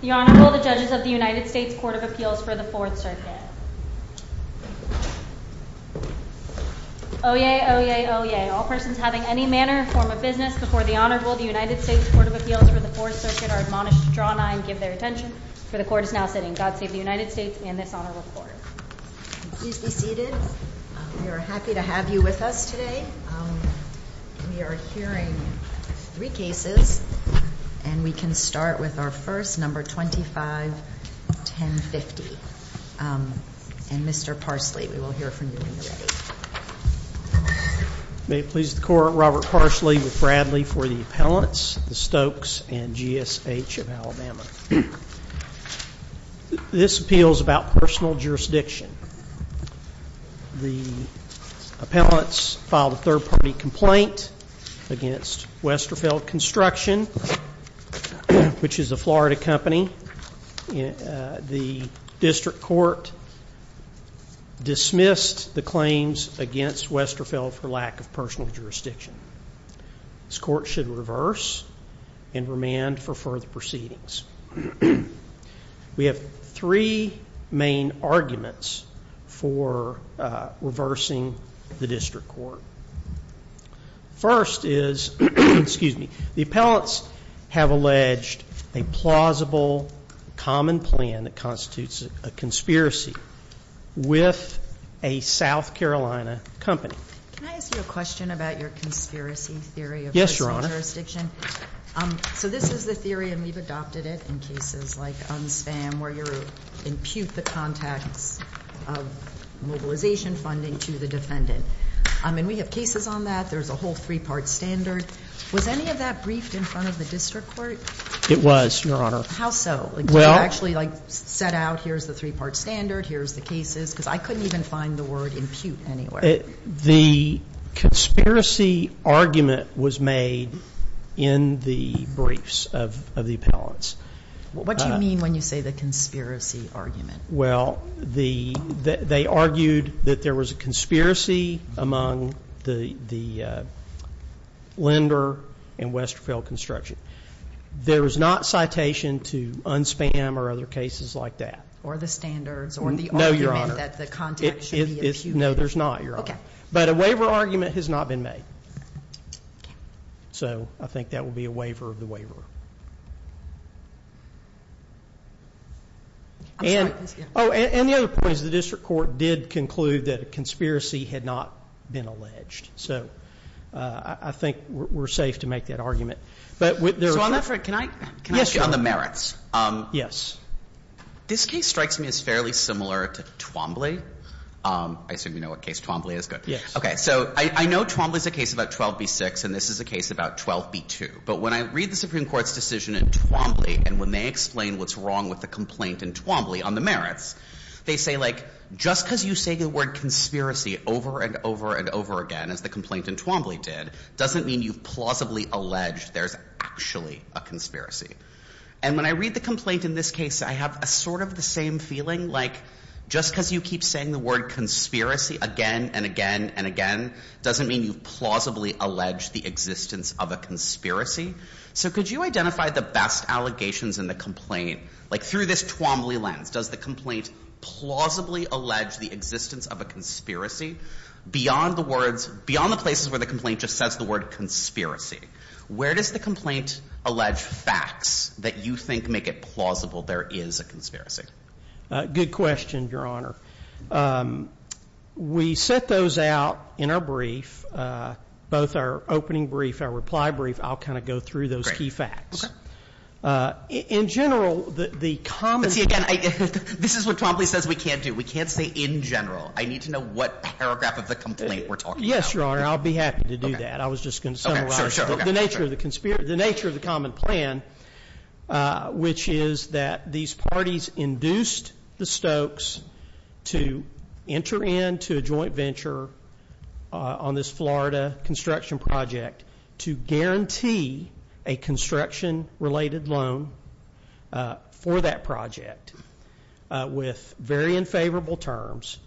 The Honorable, the Judges of the United States Court of Appeals for the Fourth Circuit Oyez, oyez, oyez. All persons having any manner or form of business before the Honorable, the United States Court of Appeals for the Fourth Circuit are admonished to draw nigh and give their attention. For the Court is now sitting. God save the United States and this Honorable Court. Please be seated. We are happy to have you with us today. We are hearing three cases and we can start with our first, number 25-1050. And Mr. Parsley, we will hear from you when you're ready. May it please the Court, Robert Parsley with Bradley for the Appellants, the Stokes and G.S.H. of Alabama. This Court should reverse and remand for further proceedings. We have three main arguments for reversing the district court. First is, excuse me, the Appellants have alleged a plausible common plan that constitutes a conspiracy with a South Carolina company. Can I ask you a question about your conspiracy theory? Yes, Your Honor. So this is the theory and we've adopted it in cases like unspam where you impute the contacts of mobilization funding to the defendant. And we have cases on that. There's a whole three-part standard. Was any of that briefed in front of the district court? It was, Your Honor. How so? Did you actually like set out, here's the three-part standard, here's the cases? Because I couldn't even find the word impute anywhere. The conspiracy argument was made in the briefs of the Appellants. What do you mean when you say the conspiracy argument? Well, they argued that there was a conspiracy among the lender and Westfield Construction. There was not citation to unspam or other cases like that. Or the standards or the argument that the contact should be imputed. No, Your Honor. No, there's not, Your Honor. Okay. But a waiver argument has not been made. So I think that would be a waiver of the waiver. Oh, and the other point is the district court did conclude that a conspiracy had not been alleged. So I think we're safe to make that argument. So on that front, can I ask you on the merits? Yes. This case strikes me as fairly similar to Twombly. I assume you know what case Twombly is. Yes. Okay. So I know Twombly is a case about 12b-6, and this is a case about 12b-2. But when I read the Supreme Court's decision in Twombly and when they explain what's wrong with the complaint in Twombly on the merits, they say, like, just because you say the word conspiracy over and over and over again, as the complaint in Twombly did, doesn't mean you've plausibly alleged there's actually a conspiracy. And when I read the complaint in this case, I have sort of the same feeling, like, just because you keep saying the word conspiracy again and again and again, doesn't mean you've plausibly alleged the existence of a conspiracy. So could you identify the best allegations in the complaint? Like, through this Twombly lens, does the complaint plausibly allege the existence of a conspiracy? Beyond the words, beyond the places where the complaint just says the word conspiracy, where does the complaint allege facts that you think make it plausible there is a conspiracy? Good question, Your Honor. We set those out in our brief, both our opening brief, our reply brief. I'll kind of go through those key facts. Okay. In general, the common— See, again, this is what Twombly says we can't do. We can't say in general. I need to know what paragraph of the complaint we're talking about. Yes, Your Honor. I'll be happy to do that. I was just going to summarize the nature of the common plan, which is that these parties induced the Stokes to enter into a joint venture on this Florida construction project to guarantee a construction-related loan for that project with very unfavorable terms,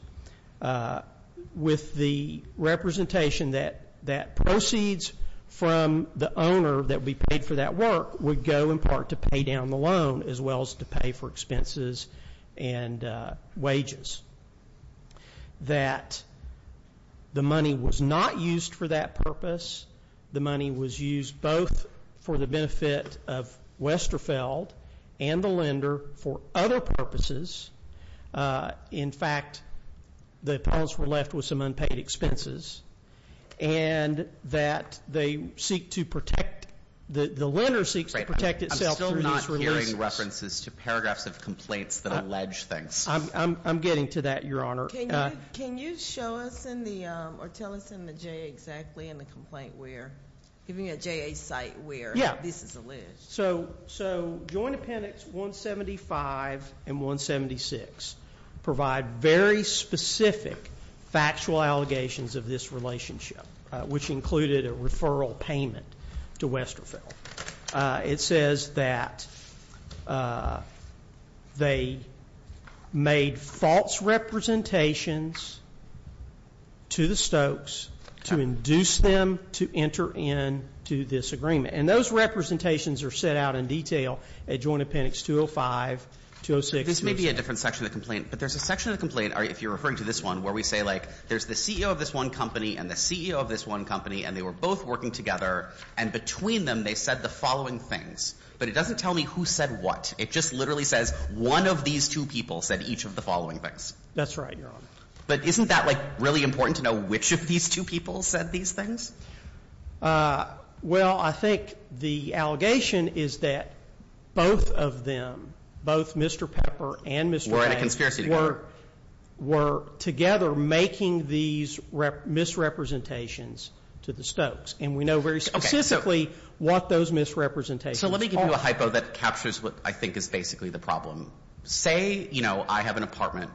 with the representation that proceeds from the owner that would be paid for that work would go, in part, to pay down the loan as well as to pay for expenses and wages. That the money was not used for that purpose. The money was used both for the benefit of Westerfeld and the lender for other purposes. In fact, the appellants were left with some unpaid expenses. And that they seek to protect—the lender seeks to protect itself through these releases. I'm still not hearing references to paragraphs of complaints that allege things. I'm getting to that, Your Honor. Can you show us in the—or tell us in the JA exactly in the complaint where—giving a JA site where this is alleged. So Joint Appendix 175 and 176 provide very specific factual allegations of this relationship, which included a referral payment to Westerfeld. It says that they made false representations to the Stokes to induce them to enter into this agreement. And those representations are set out in detail at Joint Appendix 205, 206. This may be a different section of the complaint, but there's a section of the complaint, if you're referring to this one, where we say, like, there's the CEO of this one company and the CEO of this one company, and they were both working together, and between them they said the following things. But it doesn't tell me who said what. It just literally says one of these two people said each of the following things. That's right, Your Honor. But isn't that, like, really important to know which of these two people said these things? Well, I think the allegation is that both of them, both Mr. Pepper and Mr. Banks— Were in a conspiracy together. —were together making these misrepresentations to the Stokes. And we know very specifically what those misrepresentations were. So let me give you a hypo that captures what I think is basically the problem. Say, you know, I have an apartment,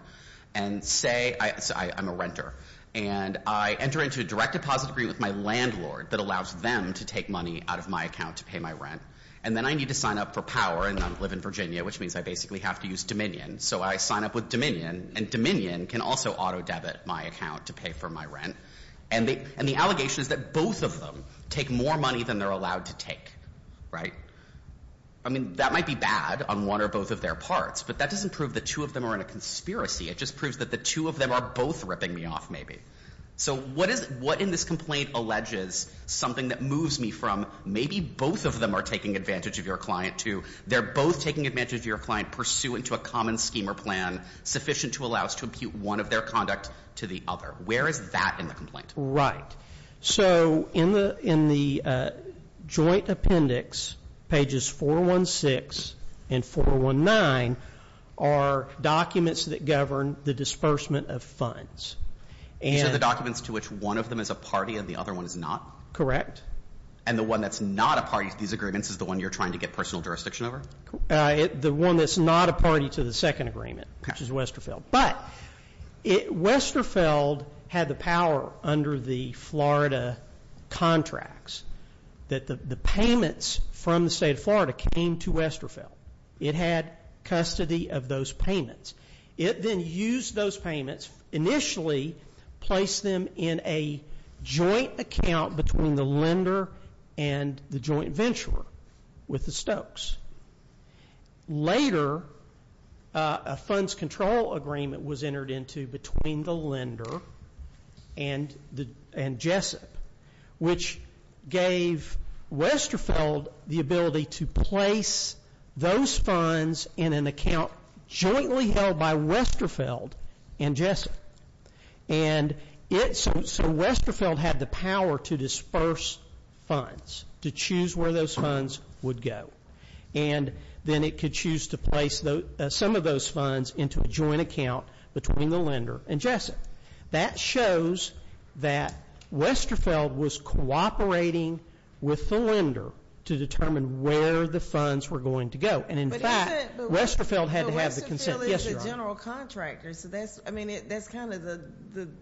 and say I'm a renter. And I enter into a direct deposit agreement with my landlord that allows them to take money out of my account to pay my rent. And then I need to sign up for power, and I live in Virginia, which means I basically have to use Dominion. So I sign up with Dominion, and Dominion can also auto-debit my account to pay for my rent. And the allegation is that both of them take more money than they're allowed to take, right? I mean, that might be bad on one or both of their parts, but that doesn't prove that two of them are in a conspiracy. It just proves that the two of them are both ripping me off maybe. So what in this complaint alleges something that moves me from maybe both of them are taking advantage of your client to they're both taking advantage of your client pursuant to a common scheme or plan sufficient to allow us to impute one of their conduct to the other? Where is that in the complaint? Right. So in the joint appendix, pages 416 and 419, are documents that govern the disbursement of funds. So the documents to which one of them is a party and the other one is not? Correct. And the one that's not a party to these agreements is the one you're trying to get personal jurisdiction over? The one that's not a party to the second agreement, which is Westerfeld. But Westerfeld had the power under the Florida contracts that the payments from the state of Florida came to Westerfeld. It had custody of those payments. It then used those payments, initially placed them in a joint account between the lender and the joint venturer with the Stokes. Later, a funds control agreement was entered into between the lender and Jessup, which gave Westerfeld the ability to place those funds in an account jointly held by Westerfeld and Jessup. And so Westerfeld had the power to disperse funds, to choose where those funds would go. And then it could choose to place some of those funds into a joint account between the lender and Jessup. That shows that Westerfeld was cooperating with the lender to determine where the funds were going to go. And, in fact, Westerfeld had to have the consent. Westerfeld is a general contractor, so that's kind of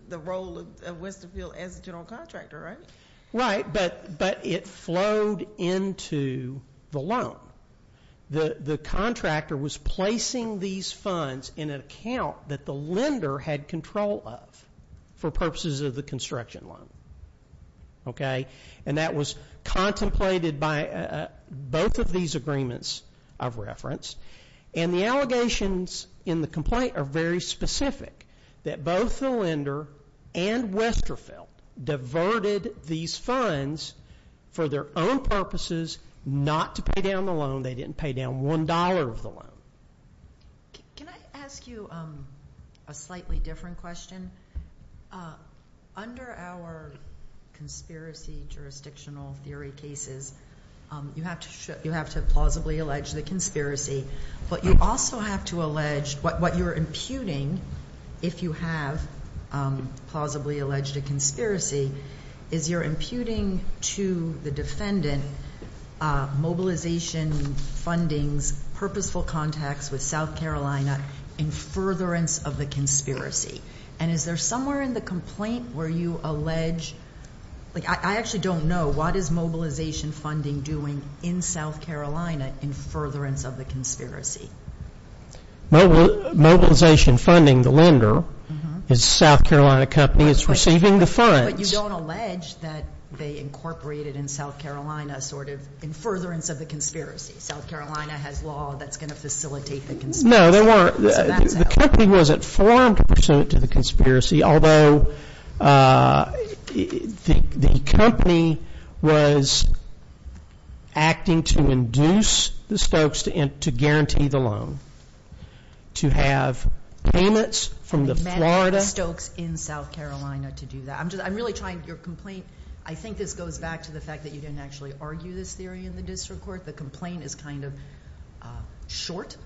the role of Westerfeld as a general contractor, right? Right, but it flowed into the loan. The contractor was placing these funds in an account that the lender had control of for purposes of the construction loan. And that was contemplated by both of these agreements of reference. And the allegations in the complaint are very specific, that both the lender and Westerfeld diverted these funds for their own purposes, not to pay down the loan. They didn't pay down one dollar of the loan. Can I ask you a slightly different question? Under our conspiracy jurisdictional theory cases, you have to plausibly allege the conspiracy. But you also have to allege what you're imputing, if you have plausibly alleged a conspiracy, is you're imputing to the defendant mobilization, fundings, purposeful contacts with South Carolina in furtherance of the conspiracy. And is there somewhere in the complaint where you allege, like, I actually don't know, what is mobilization funding doing in South Carolina in furtherance of the conspiracy? Mobilization funding, the lender, is a South Carolina company, is receiving the funds. But you don't allege that they incorporated in South Carolina sort of in furtherance of the conspiracy. South Carolina has law that's going to facilitate the conspiracy. No, there weren't. The company wasn't formed pursuant to the conspiracy, although the company was acting to induce the Stokes to guarantee the loan, to have payments from the Florida. They met at the Stokes in South Carolina to do that. I'm really trying, your complaint, I think this goes back to the fact that you didn't actually argue this theory in the district court. The complaint is kind of short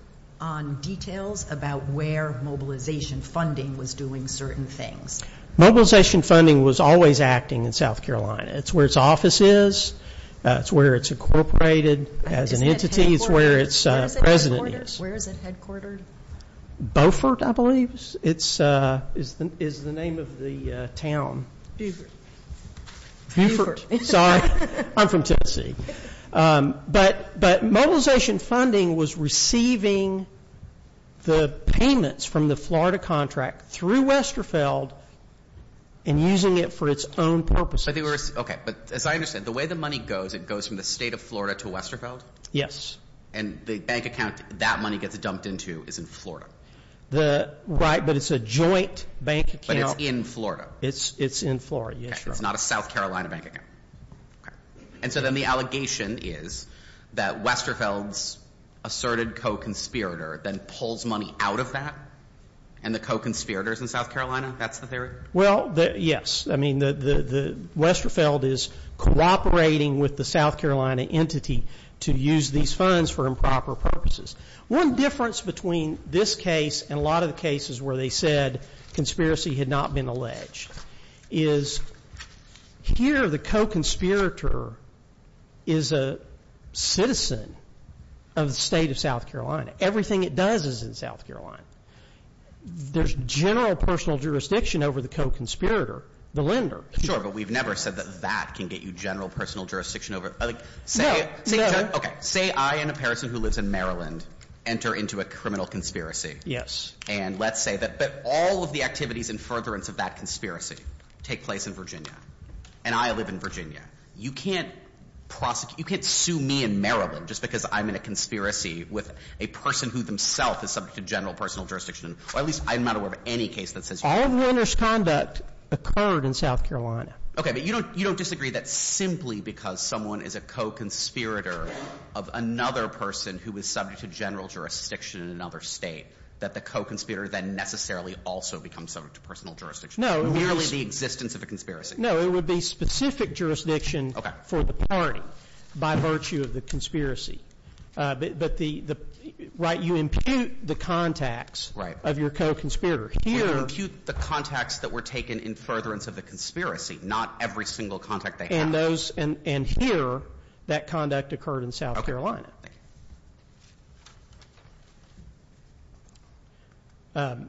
on details about where mobilization funding was doing certain things. Mobilization funding was always acting in South Carolina. It's where its office is. It's where it's incorporated as an entity. It's where its president is. Where is it headquartered? Beaufort, I believe, is the name of the town. Beaufort. Beaufort. Sorry. I'm from Tennessee. But mobilization funding was receiving the payments from the Florida contract through Westerfeld and using it for its own purposes. Okay. But as I understand, the way the money goes, it goes from the state of Florida to Westerfeld? Yes. And the bank account that money gets dumped into is in Florida. Right. But it's a joint bank account. But it's in Florida. It's in Florida. Yes, sir. Okay. It's not a South Carolina bank account. Okay. And so then the allegation is that Westerfeld's asserted co-conspirator then pulls money out of that, and the co-conspirator is in South Carolina? That's the theory? Well, yes. I mean, Westerfeld is cooperating with the South Carolina entity to use these funds for improper purposes. One difference between this case and a lot of the cases where they said conspiracy had not been alleged is here the co-conspirator is a citizen of the state of South Carolina. Everything it does is in South Carolina. There's general personal jurisdiction over the co-conspirator, the lender. Sure. But we've never said that that can get you general personal jurisdiction over it. No. No. Say I am a person who lives in Maryland enter into a criminal conspiracy. Yes. And let's say that all of the activities in furtherance of that conspiracy take place in Virginia, and I live in Virginia. You can't sue me in Maryland just because I'm in a conspiracy with a person who themselves is subject to general personal jurisdiction. Or at least I'm not aware of any case that says you are. All of the lender's conduct occurred in South Carolina. Okay. But you don't disagree that simply because someone is a co-conspirator of another person who is subject to general jurisdiction in another state, that the co-conspirator then necessarily also becomes subject to personal jurisdiction. No. Merely the existence of a conspiracy. No. It would be specific jurisdiction for the party by virtue of the conspiracy. But the right you impute the contacts of your co-conspirator. Right. Here. You impute the contacts that were taken in furtherance of the conspiracy, not every single contact they have. And here that conduct occurred in South Carolina. Okay. Thank you.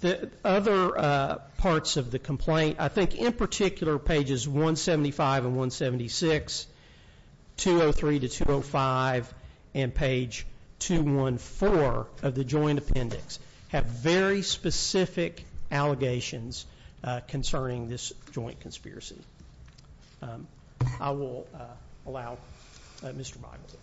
The other parts of the complaint, I think in particular pages 175 and 176, 203 to 205, and page 214 of the joint appendix have very specific allegations concerning this joint conspiracy. I will allow Mr. Bible to speak.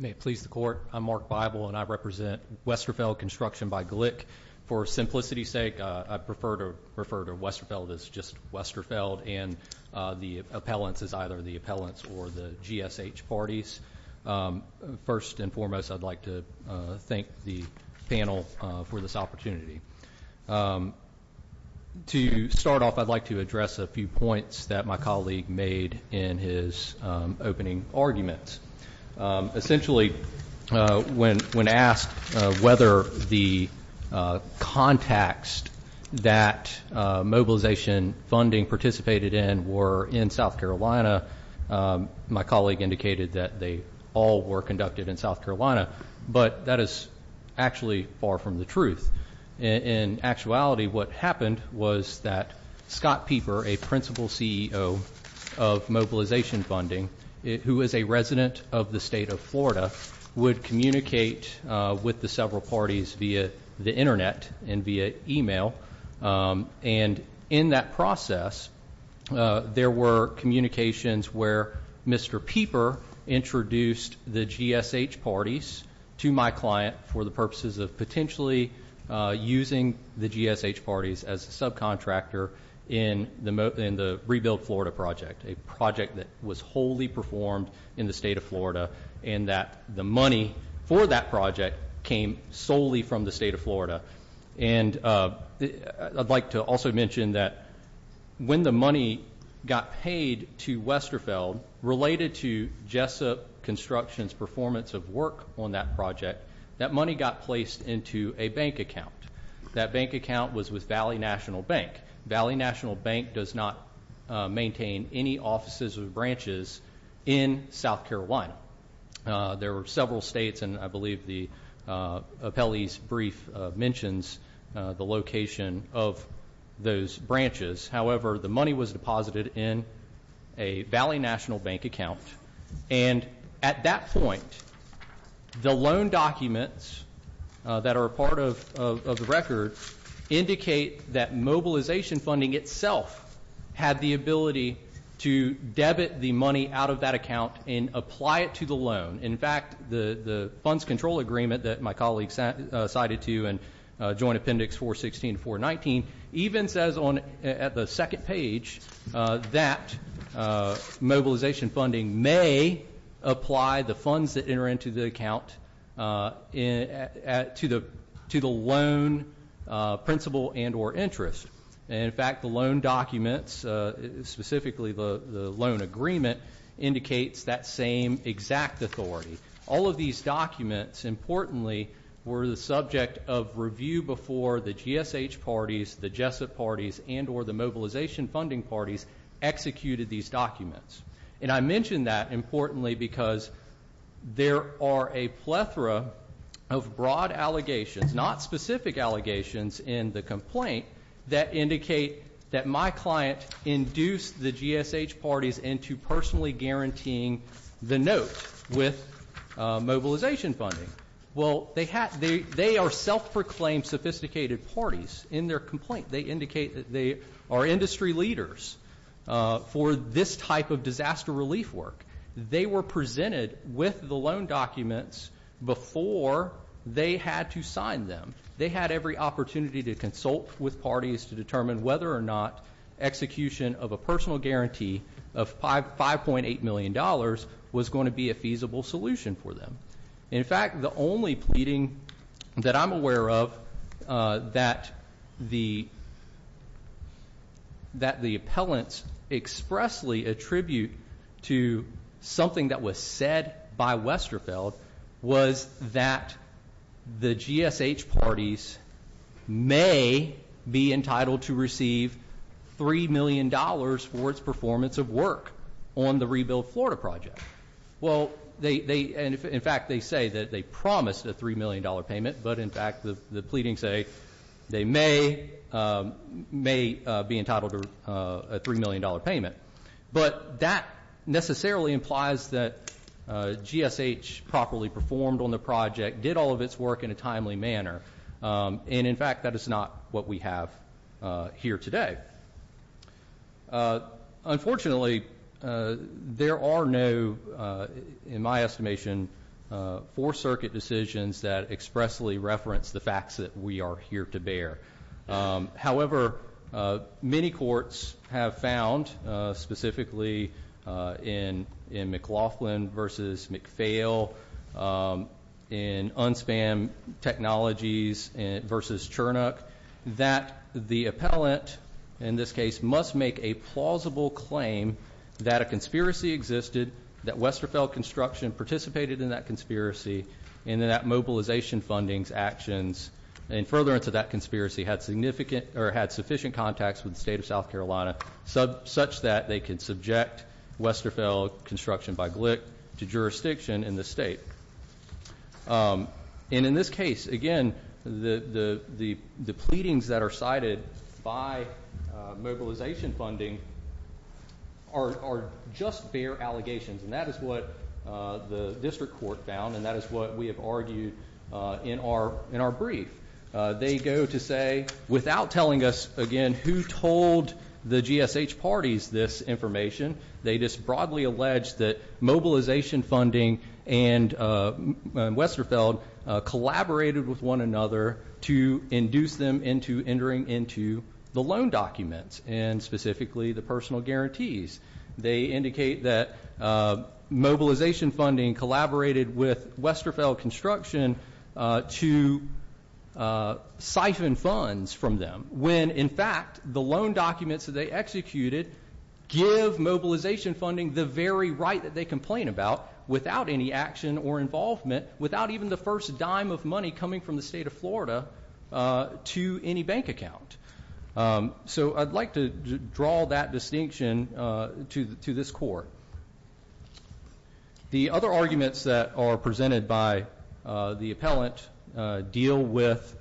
May it please the court. I'm Mark Bible, and I represent Westerfeld Construction by Glick. For simplicity's sake, I prefer to refer to Westerfeld as just Westerfeld, and the appellants as either the appellants or the GSH parties. First and foremost, I'd like to thank the panel for this opportunity. To start off, I'd like to address a few points that my colleague made in his opening arguments. Essentially, when asked whether the contacts that mobilization funding participated in were in South Carolina, my colleague indicated that they all were conducted in South Carolina. But that is actually far from the truth. In actuality, what happened was that Scott Pieper, a principal CEO of mobilization funding, who is a resident of the state of Florida, would communicate with the several parties via the Internet and via e-mail. And in that process, there were communications where Mr. Pieper introduced the GSH parties to my client for the purposes of potentially using the GSH parties as a subcontractor in the Rebuild Florida project, a project that was wholly performed in the state of Florida, and that the money for that project came solely from the state of Florida. And I'd like to also mention that when the money got paid to Westerfeld, related to Jessup Construction's performance of work on that project, that money got placed into a bank account. That bank account was with Valley National Bank. Valley National Bank does not maintain any offices or branches in South Carolina. There were several states, and I believe the appellee's brief mentions the location of those branches. However, the money was deposited in a Valley National Bank account. And at that point, the loan documents that are part of the record indicate that mobilization funding itself had the ability to debit the money out of that account and apply it to the loan. In fact, the funds control agreement that my colleague cited to you in Joint Appendix 416 and 419 even says at the second page that mobilization funding may apply the funds that enter into the account to the loan principal and or interest. And, in fact, the loan documents, specifically the loan agreement, indicates that same exact authority. All of these documents, importantly, were the subject of review before the GSH parties, the Jessup parties, and or the mobilization funding parties executed these documents. And I mention that, importantly, because there are a plethora of broad allegations, not specific allegations, in the complaint that indicate that my client induced the GSH parties into personally guaranteeing the note with mobilization funding. Well, they are self-proclaimed sophisticated parties in their complaint. They indicate that they are industry leaders for this type of disaster relief work. They were presented with the loan documents before they had to sign them. They had every opportunity to consult with parties to determine whether or not execution of a personal guarantee of $5.8 million was going to be a feasible solution for them. In fact, the only pleading that I'm aware of that the appellants expressly attribute to something that was said by Westerfeld was that the GSH parties may be entitled to receive $3 million for its performance of work on the Rebuild Florida project. Well, they, in fact, they say that they promised a $3 million payment. But, in fact, the pleadings say they may be entitled to a $3 million payment. But that necessarily implies that GSH properly performed on the project, did all of its work in a timely manner. And, in fact, that is not what we have here today. Unfortunately, there are no, in my estimation, 4th Circuit decisions that expressly reference the facts that we are here to bear. In this case, must make a plausible claim that a conspiracy existed, that Westerfeld Construction participated in that conspiracy, and that that mobilization funding's actions in furtherance of that conspiracy had sufficient contacts with the state of South Carolina such that they could subject Westerfeld Construction by Glick to jurisdiction in the state. And, in this case, again, the pleadings that are cited by mobilization funding are just bare allegations. And that is what the district court found, and that is what we have argued in our brief. They go to say, without telling us, again, who told the GSH parties this information, they just broadly allege that mobilization funding and Westerfeld collaborated with one another to induce them into entering into the loan documents, and specifically the personal guarantees. They indicate that mobilization funding collaborated with Westerfeld Construction to siphon funds from them, when, in fact, the loan documents that they executed give mobilization funding the very right that they complain about, without any action or involvement, without even the first dime of money coming from the state of Florida to any bank account. So, I'd like to draw that distinction to this court. The other arguments that are presented by the appellant deal with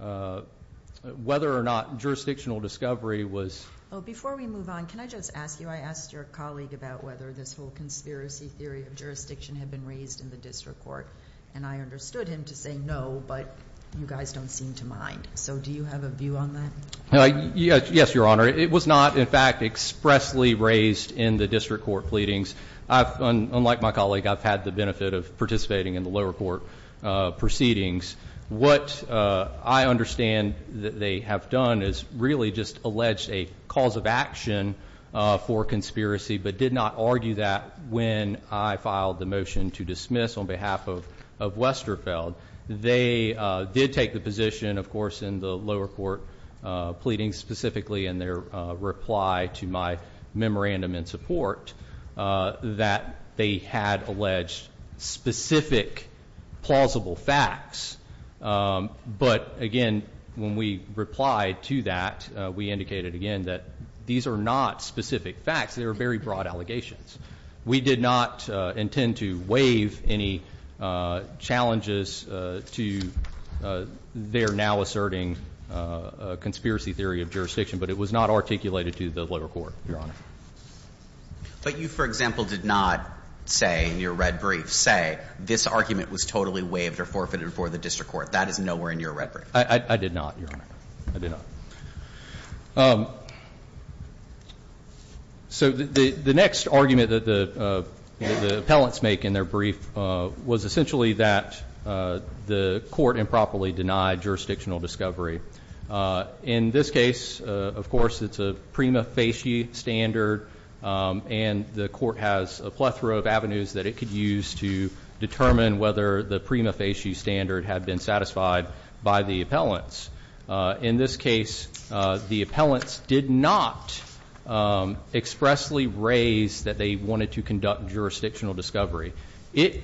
whether or not jurisdictional discovery was. Before we move on, can I just ask you? I asked your colleague about whether this whole conspiracy theory of jurisdiction had been raised in the district court, and I understood him to say no, but you guys don't seem to mind. So, do you have a view on that? Yes, Your Honor. It was not, in fact, expressly raised in the district court pleadings. Unlike my colleague, I've had the benefit of participating in the lower court proceedings. What I understand that they have done is really just allege a cause of action for conspiracy, but did not argue that when I filed the motion to dismiss on behalf of Westerfeld. They did take the position, of course, in the lower court pleadings, specifically in their reply to my memorandum in support that they had alleged specific plausible facts. But, again, when we replied to that, we indicated again that these are not specific facts. They are very broad allegations. We did not intend to waive any challenges to their now asserting conspiracy theory of jurisdiction, but it was not articulated to the lower court, Your Honor. But you, for example, did not say in your red brief, say, this argument was totally waived or forfeited before the district court. That is nowhere in your red brief. I did not, Your Honor. I did not. So the next argument that the appellants make in their brief was essentially that the court improperly denied jurisdictional discovery. In this case, of course, it's a prima facie standard, and the court has a plethora of avenues that it could use to determine whether the prima facie standard had been satisfied by the appellants. In this case, the appellants did not expressly raise that they wanted to conduct jurisdictional discovery.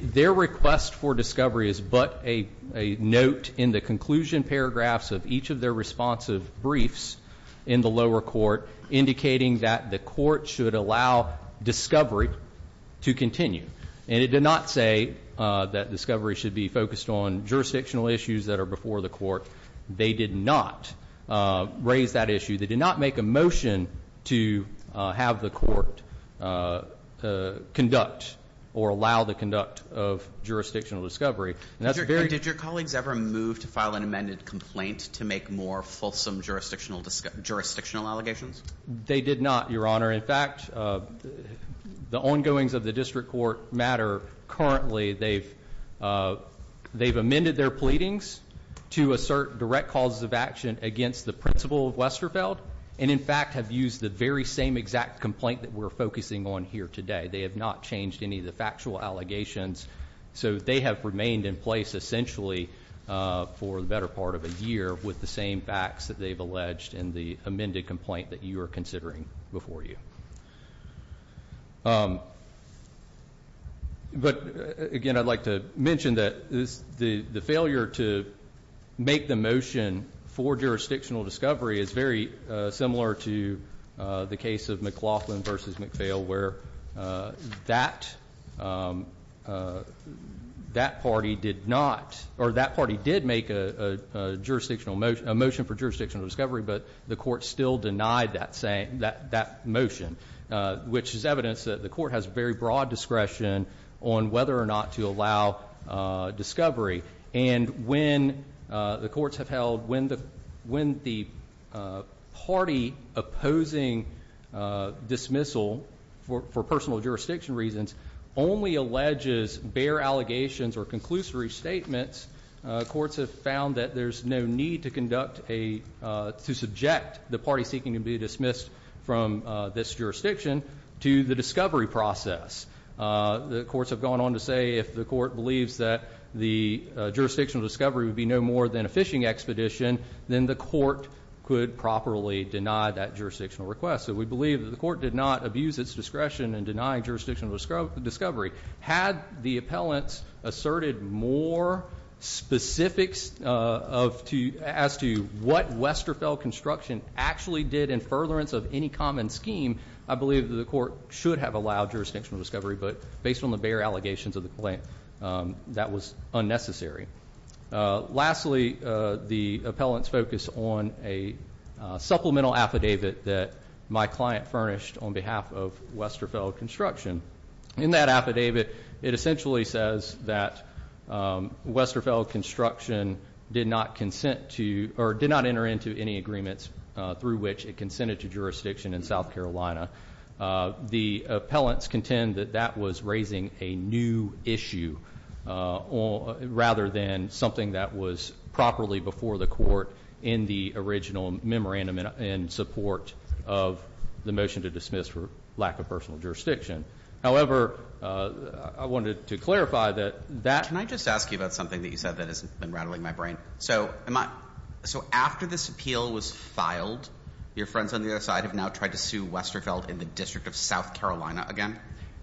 Their request for discovery is but a note in the conclusion paragraphs of each of their responsive briefs in the lower court, indicating that the court should allow discovery to continue. And it did not say that discovery should be focused on jurisdictional issues that are before the court. They did not raise that issue. They did not make a motion to have the court conduct or allow the conduct of jurisdictional discovery. Did your colleagues ever move to file an amended complaint to make more fulsome jurisdictional allegations? They did not, Your Honor. Your Honor, in fact, the ongoings of the district court matter currently. They've amended their pleadings to assert direct causes of action against the principal of Westerfeld, and in fact have used the very same exact complaint that we're focusing on here today. They have not changed any of the factual allegations. So they have remained in place essentially for the better part of a year with the same facts that they've alleged in the amended complaint that you are considering before you. But, again, I'd like to mention that the failure to make the motion for jurisdictional discovery is very similar to the case of McLaughlin versus McPhail where that party did make a motion for jurisdictional discovery, but the court still denied that motion, which is evidence that the court has very broad discretion on whether or not to allow discovery. And when the courts have held, when the party opposing dismissal for personal jurisdiction reasons only alleges bare allegations or conclusory statements, courts have found that there's no need to conduct a, to subject the party seeking to be dismissed from this jurisdiction to the discovery process. The courts have gone on to say if the court believes that the jurisdictional discovery would be no more than a fishing expedition, then the court could properly deny that jurisdictional request. So we believe that the court did not abuse its discretion in denying jurisdictional discovery. Had the appellants asserted more specifics as to what Westerfeld Construction actually did in furtherance of any common scheme, I believe that the court should have allowed jurisdictional discovery. But based on the bare allegations of the claim, that was unnecessary. Lastly, the appellants focus on a supplemental affidavit that my client furnished on behalf of Westerfeld Construction. In that affidavit, it essentially says that Westerfeld Construction did not consent to or did not enter into any agreements through which it consented to jurisdiction in South Carolina. The appellants contend that that was raising a new issue rather than something that was properly before the court in the original memorandum in support of the motion to dismiss for lack of personal jurisdiction. However, I wanted to clarify that that Can I just ask you about something that you said that has been rattling my brain? So after this appeal was filed, your friends on the other side have now tried to sue Westerfeld in the District of South Carolina again?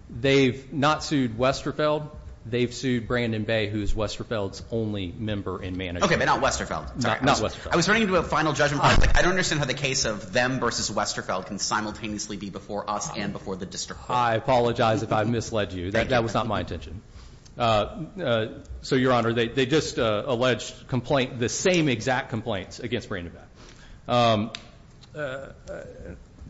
They've not sued Westerfeld. They've sued Brandon Bay, who is Westerfeld's only member in management. OK, but not Westerfeld. Not Westerfeld. I was running into a final judgment. I don't understand how the case of them versus Westerfeld can simultaneously be before us and before the district. I apologize if I misled you. That was not my intention. So, Your Honor, they just alleged complaint. The same exact complaints against Brandon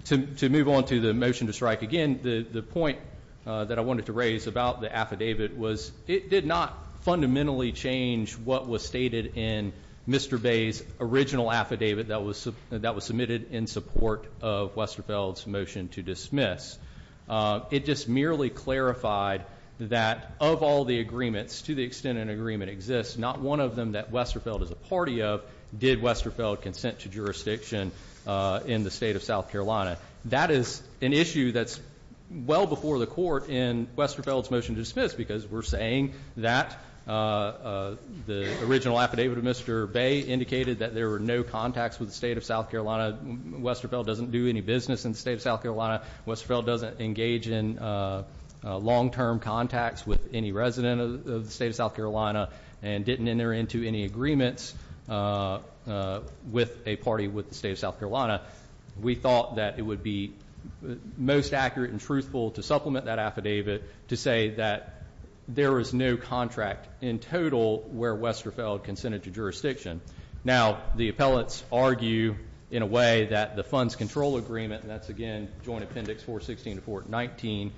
to move on to the motion to strike again. The point that I wanted to raise about the affidavit was it did not fundamentally change what was stated in Mr. Bay's original affidavit that was that was submitted in support of Westerfeld's motion to dismiss. It just merely clarified that of all the agreements to the extent an agreement exists, not one of them that Westerfeld is a party of did Westerfeld consent to jurisdiction in the state of South Carolina. That is an issue that's well before the court in Westerfeld's motion to dismiss because we're saying that the original affidavit of Mr. Bay indicated that there were no contacts with the state of South Carolina. Westerfeld doesn't do any business in the state of South Carolina. Westerfeld doesn't engage in long-term contacts with any resident of the state of South Carolina and didn't enter into any agreements with a party with the state of South Carolina. We thought that it would be most accurate and truthful to supplement that affidavit to say that there is no contract in total where Westerfeld consented to jurisdiction. Now, the appellants argue in a way that the funds control agreement, and that's again Joint Appendix 416 to 419,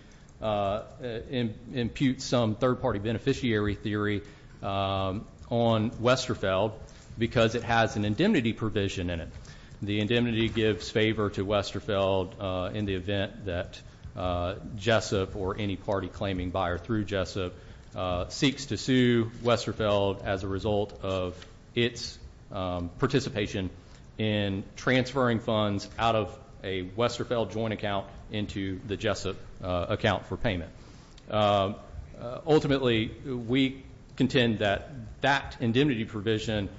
imputes some third-party beneficiary theory on Westerfeld because it has an indemnity provision in it. The indemnity gives favor to Westerfeld in the event that Jessup or any party claiming buyer through Jessup seeks to sue Westerfeld as a result of its participation in transferring funds out of a Westerfeld joint account into the Jessup account for payment. Ultimately, we contend that that indemnity provision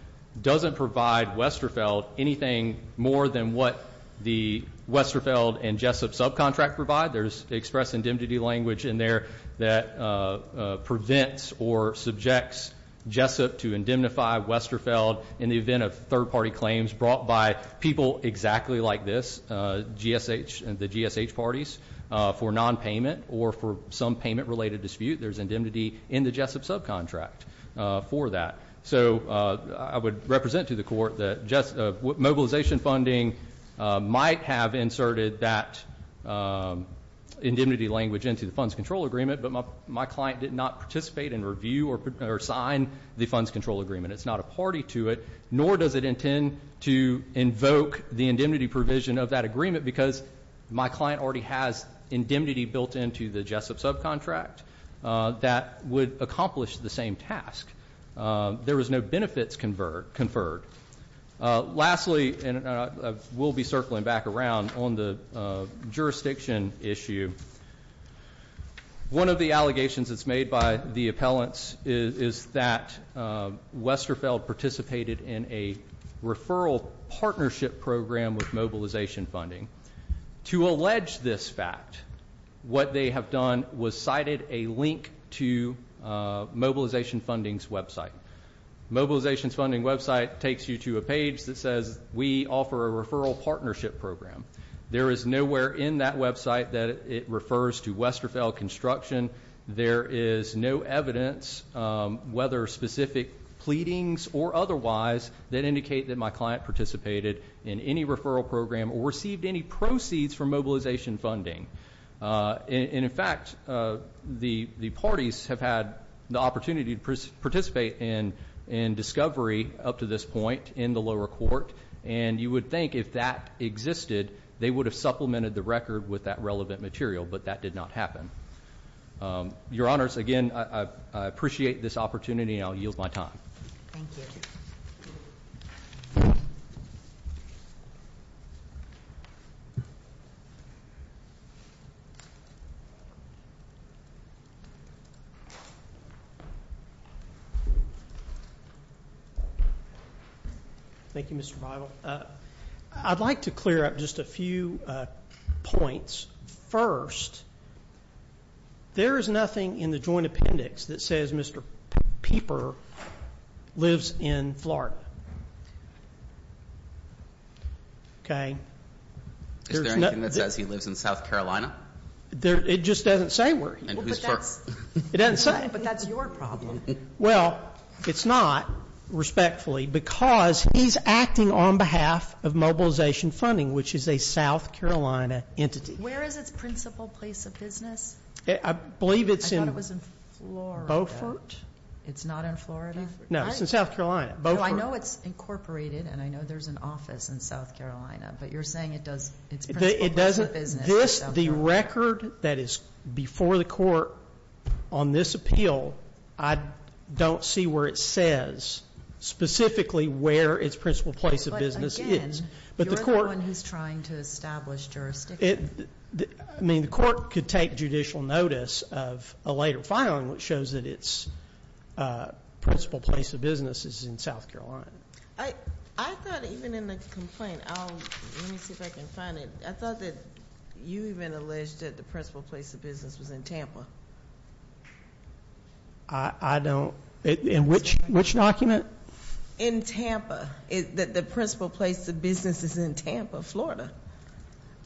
doesn't provide Westerfeld anything more than what the Westerfeld and Jessup subcontract provide. There's express indemnity language in there that prevents or subjects Jessup to indemnify Westerfeld in the event of third-party claims brought by people exactly like this, the GSH parties, for nonpayment or for some payment-related dispute. There's indemnity in the Jessup subcontract for that. So I would represent to the court that mobilization funding might have inserted that indemnity language into the funds control agreement, but my client did not participate in review or sign the funds control agreement. It's not a party to it, nor does it intend to invoke the indemnity provision of that agreement because my client already has indemnity built into the Jessup subcontract that would accomplish the same task. There was no benefits conferred. Lastly, and we'll be circling back around on the jurisdiction issue, one of the allegations that's made by the appellants is that Westerfeld participated in a referral partnership program with mobilization funding. To allege this fact, what they have done was cited a link to mobilization funding's website. Mobilization funding's website takes you to a page that says, we offer a referral partnership program. There is nowhere in that website that it refers to Westerfeld construction. There is no evidence, whether specific pleadings or otherwise, that indicate that my client participated in any referral program or received any proceeds from mobilization funding. And, in fact, the parties have had the opportunity to participate in discovery up to this point in the lower court, and you would think if that existed, they would have supplemented the record with that relevant material, but that did not happen. Your Honors, again, I appreciate this opportunity and I'll yield my time. Thank you. Thank you, Mr. Bible. I'd like to clear up just a few points. First, there is nothing in the joint appendix that says Mr. Pieper lives in Florida. Okay. Is there anything that says he lives in South Carolina? It just doesn't say where he lives. But that's your problem. Well, it's not, respectfully, because he's acting on behalf of mobilization funding, which is a South Carolina entity. Where is its principal place of business? I believe it's in Beaufort. It's not in Florida? No, it's in South Carolina. Beaufort. I know it's incorporated and I know there's an office in South Carolina, but you're saying its principal place of business is in South Carolina. The record that is before the court on this appeal, I don't see where it says specifically where its principal place of business is. You're the one who's trying to establish jurisdiction. I mean, the court could take judicial notice of a later filing, which shows that its principal place of business is in South Carolina. I thought even in the complaint, let me see if I can find it. I thought that you even alleged that the principal place of business was in Tampa. I don't. In which document? In Tampa. The principal place of business is in Tampa, Florida.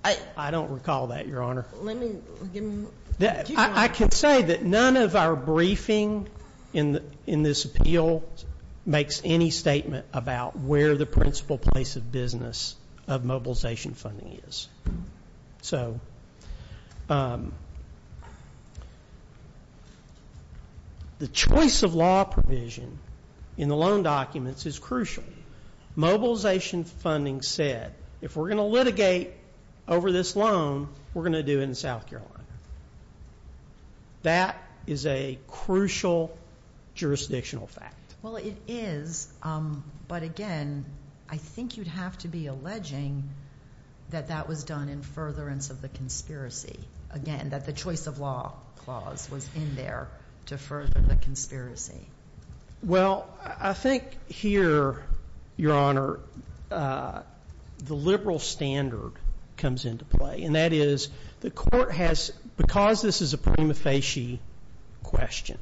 I don't recall that, Your Honor. Let me give you more. I can say that none of our briefing in this appeal makes any statement about where the principal place of business of mobilization funding is. So the choice of law provision in the loan documents is crucial. Mobilization funding said, if we're going to litigate over this loan, we're going to do it in South Carolina. That is a crucial jurisdictional fact. Well, it is. But again, I think you'd have to be alleging that that was done in furtherance of the conspiracy. Again, that the choice of law clause was in there to further the conspiracy. Well, I think here, Your Honor, the liberal standard comes into play. And that is, the court has, because this is a prima facie question,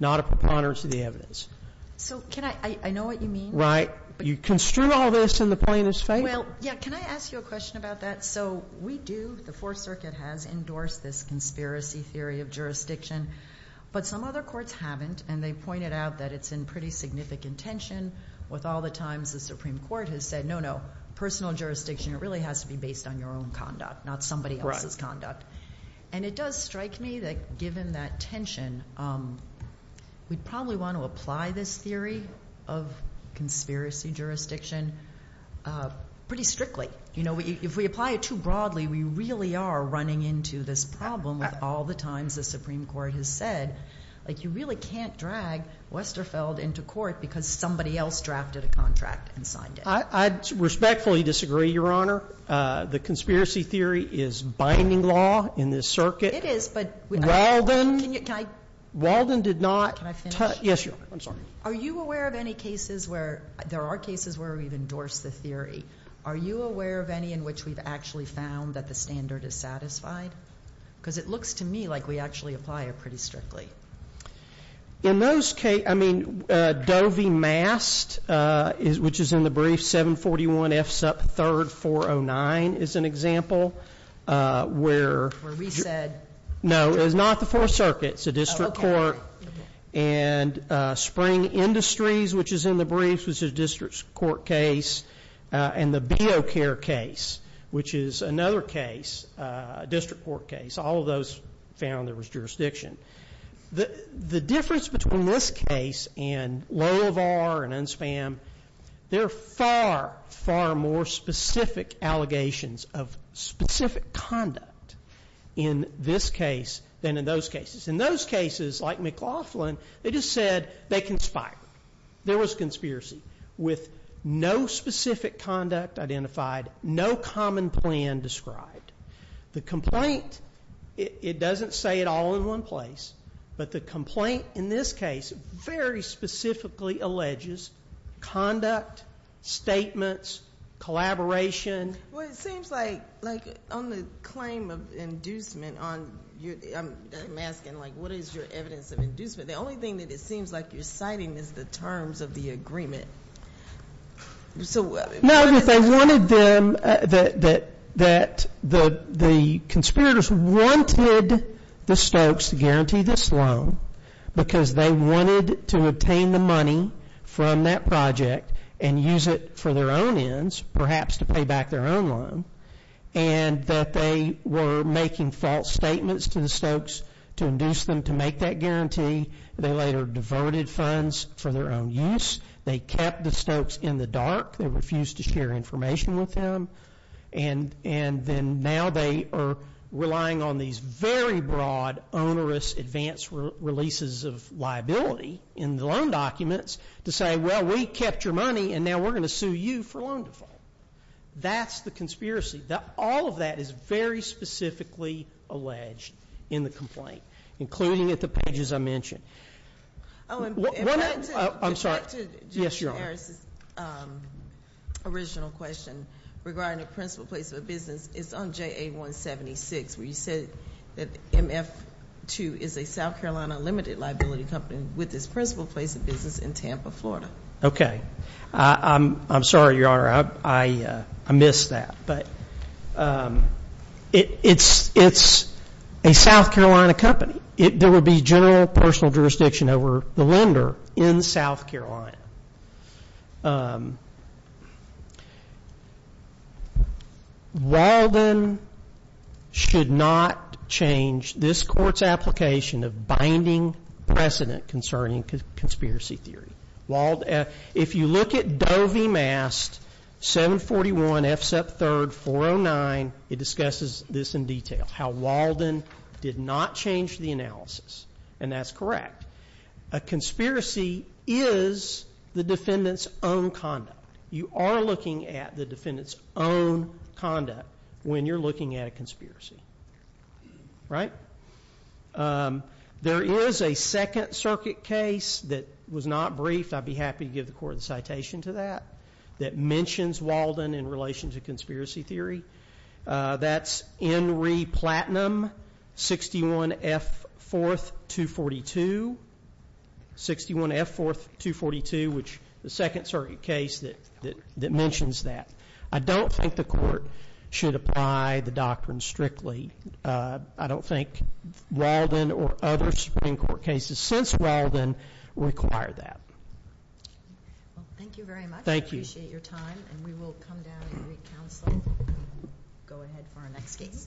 not a preponderance of the evidence. So can I, I know what you mean. Right. But you construe all this in the plaintiff's favor. Well, yeah, can I ask you a question about that? So we do, the Fourth Circuit has endorsed this conspiracy theory of jurisdiction. But some other courts haven't, and they pointed out that it's in pretty significant tension with all the times the Supreme Court has said, no, no, personal jurisdiction, it really has to be based on your own conduct, not somebody else's conduct. And it does strike me that given that tension, we'd probably want to apply this theory of conspiracy jurisdiction pretty strictly. If we apply it too broadly, we really are running into this problem with all the times the Supreme Court has said, like you really can't drag Westerfeld into court because somebody else drafted a contract and signed it. I respectfully disagree, Your Honor. The conspiracy theory is binding law in this circuit. It is, but. Walden. Can I. Walden did not. Can I finish? Yes, Your Honor. I'm sorry. Are you aware of any cases where, there are cases where we've endorsed the theory. Are you aware of any in which we've actually found that the standard is satisfied? Because it looks to me like we actually apply it pretty strictly. In those cases, I mean, Doe v. Mast, which is in the brief, 741F sub 3409 is an example where. Where we said. No, it was not the Fourth Circuit. It's a district court. And Spring Industries, which is in the brief, was a district court case. And the BeoCare case, which is another case, a district court case. All of those found there was jurisdiction. The difference between this case and Loehlevar and Unspam, they're far, far more specific allegations of specific conduct in this case than in those cases. In those cases, like McLaughlin, they just said they conspired. There was conspiracy. With no specific conduct identified, no common plan described. The complaint, it doesn't say it all in one place. But the complaint in this case very specifically alleges conduct, statements, collaboration. Well, it seems like, like, on the claim of inducement on, I'm asking, like, what is your evidence of inducement? The only thing that it seems like you're citing is the terms of the agreement. No, if they wanted them, that the conspirators wanted the Stokes to guarantee this loan because they wanted to obtain the money from that project and use it for their own ends, perhaps to pay back their own loan, and that they were making false statements to the Stokes to induce them to make that guarantee. They later diverted funds for their own use. They kept the Stokes in the dark. They refused to share information with them. And then now they are relying on these very broad onerous advance releases of liability in the loan documents to say, well, we kept your money and now we're going to sue you for loan default. That's the conspiracy. All of that is very specifically alleged in the complaint, including at the pages I mentioned. I'm sorry. Yes, Your Honor. Regarding the principal place of a business, it's on JA-176, where you said that MF2 is a South Carolina limited liability company with its principal place of business in Tampa, Florida. Okay. I'm sorry, Your Honor. I missed that. But it's a South Carolina company. There would be general personal jurisdiction over the lender in South Carolina. Walden should not change this court's application of binding precedent concerning conspiracy theory. If you look at Doe v. Mast, 741 F. Sep. 3, 409, it discusses this in detail, how Walden did not change the analysis. And that's correct. A conspiracy is the defendant's own conduct. You are looking at the defendant's own conduct when you're looking at a conspiracy. Right? There is a Second Circuit case that was not briefed. I'd be happy to give the court a citation to that, that mentions Walden in relation to conspiracy theory. That's N. Re. Platinum, 61 F. 4th, 242. 61 F. 4th, 242, which is the Second Circuit case that mentions that. I don't think the court should apply the doctrine strictly. I don't think Walden or other Supreme Court cases since Walden require that. Thank you very much. I appreciate your time. And we will come down and re-counsel. Go ahead for our next case.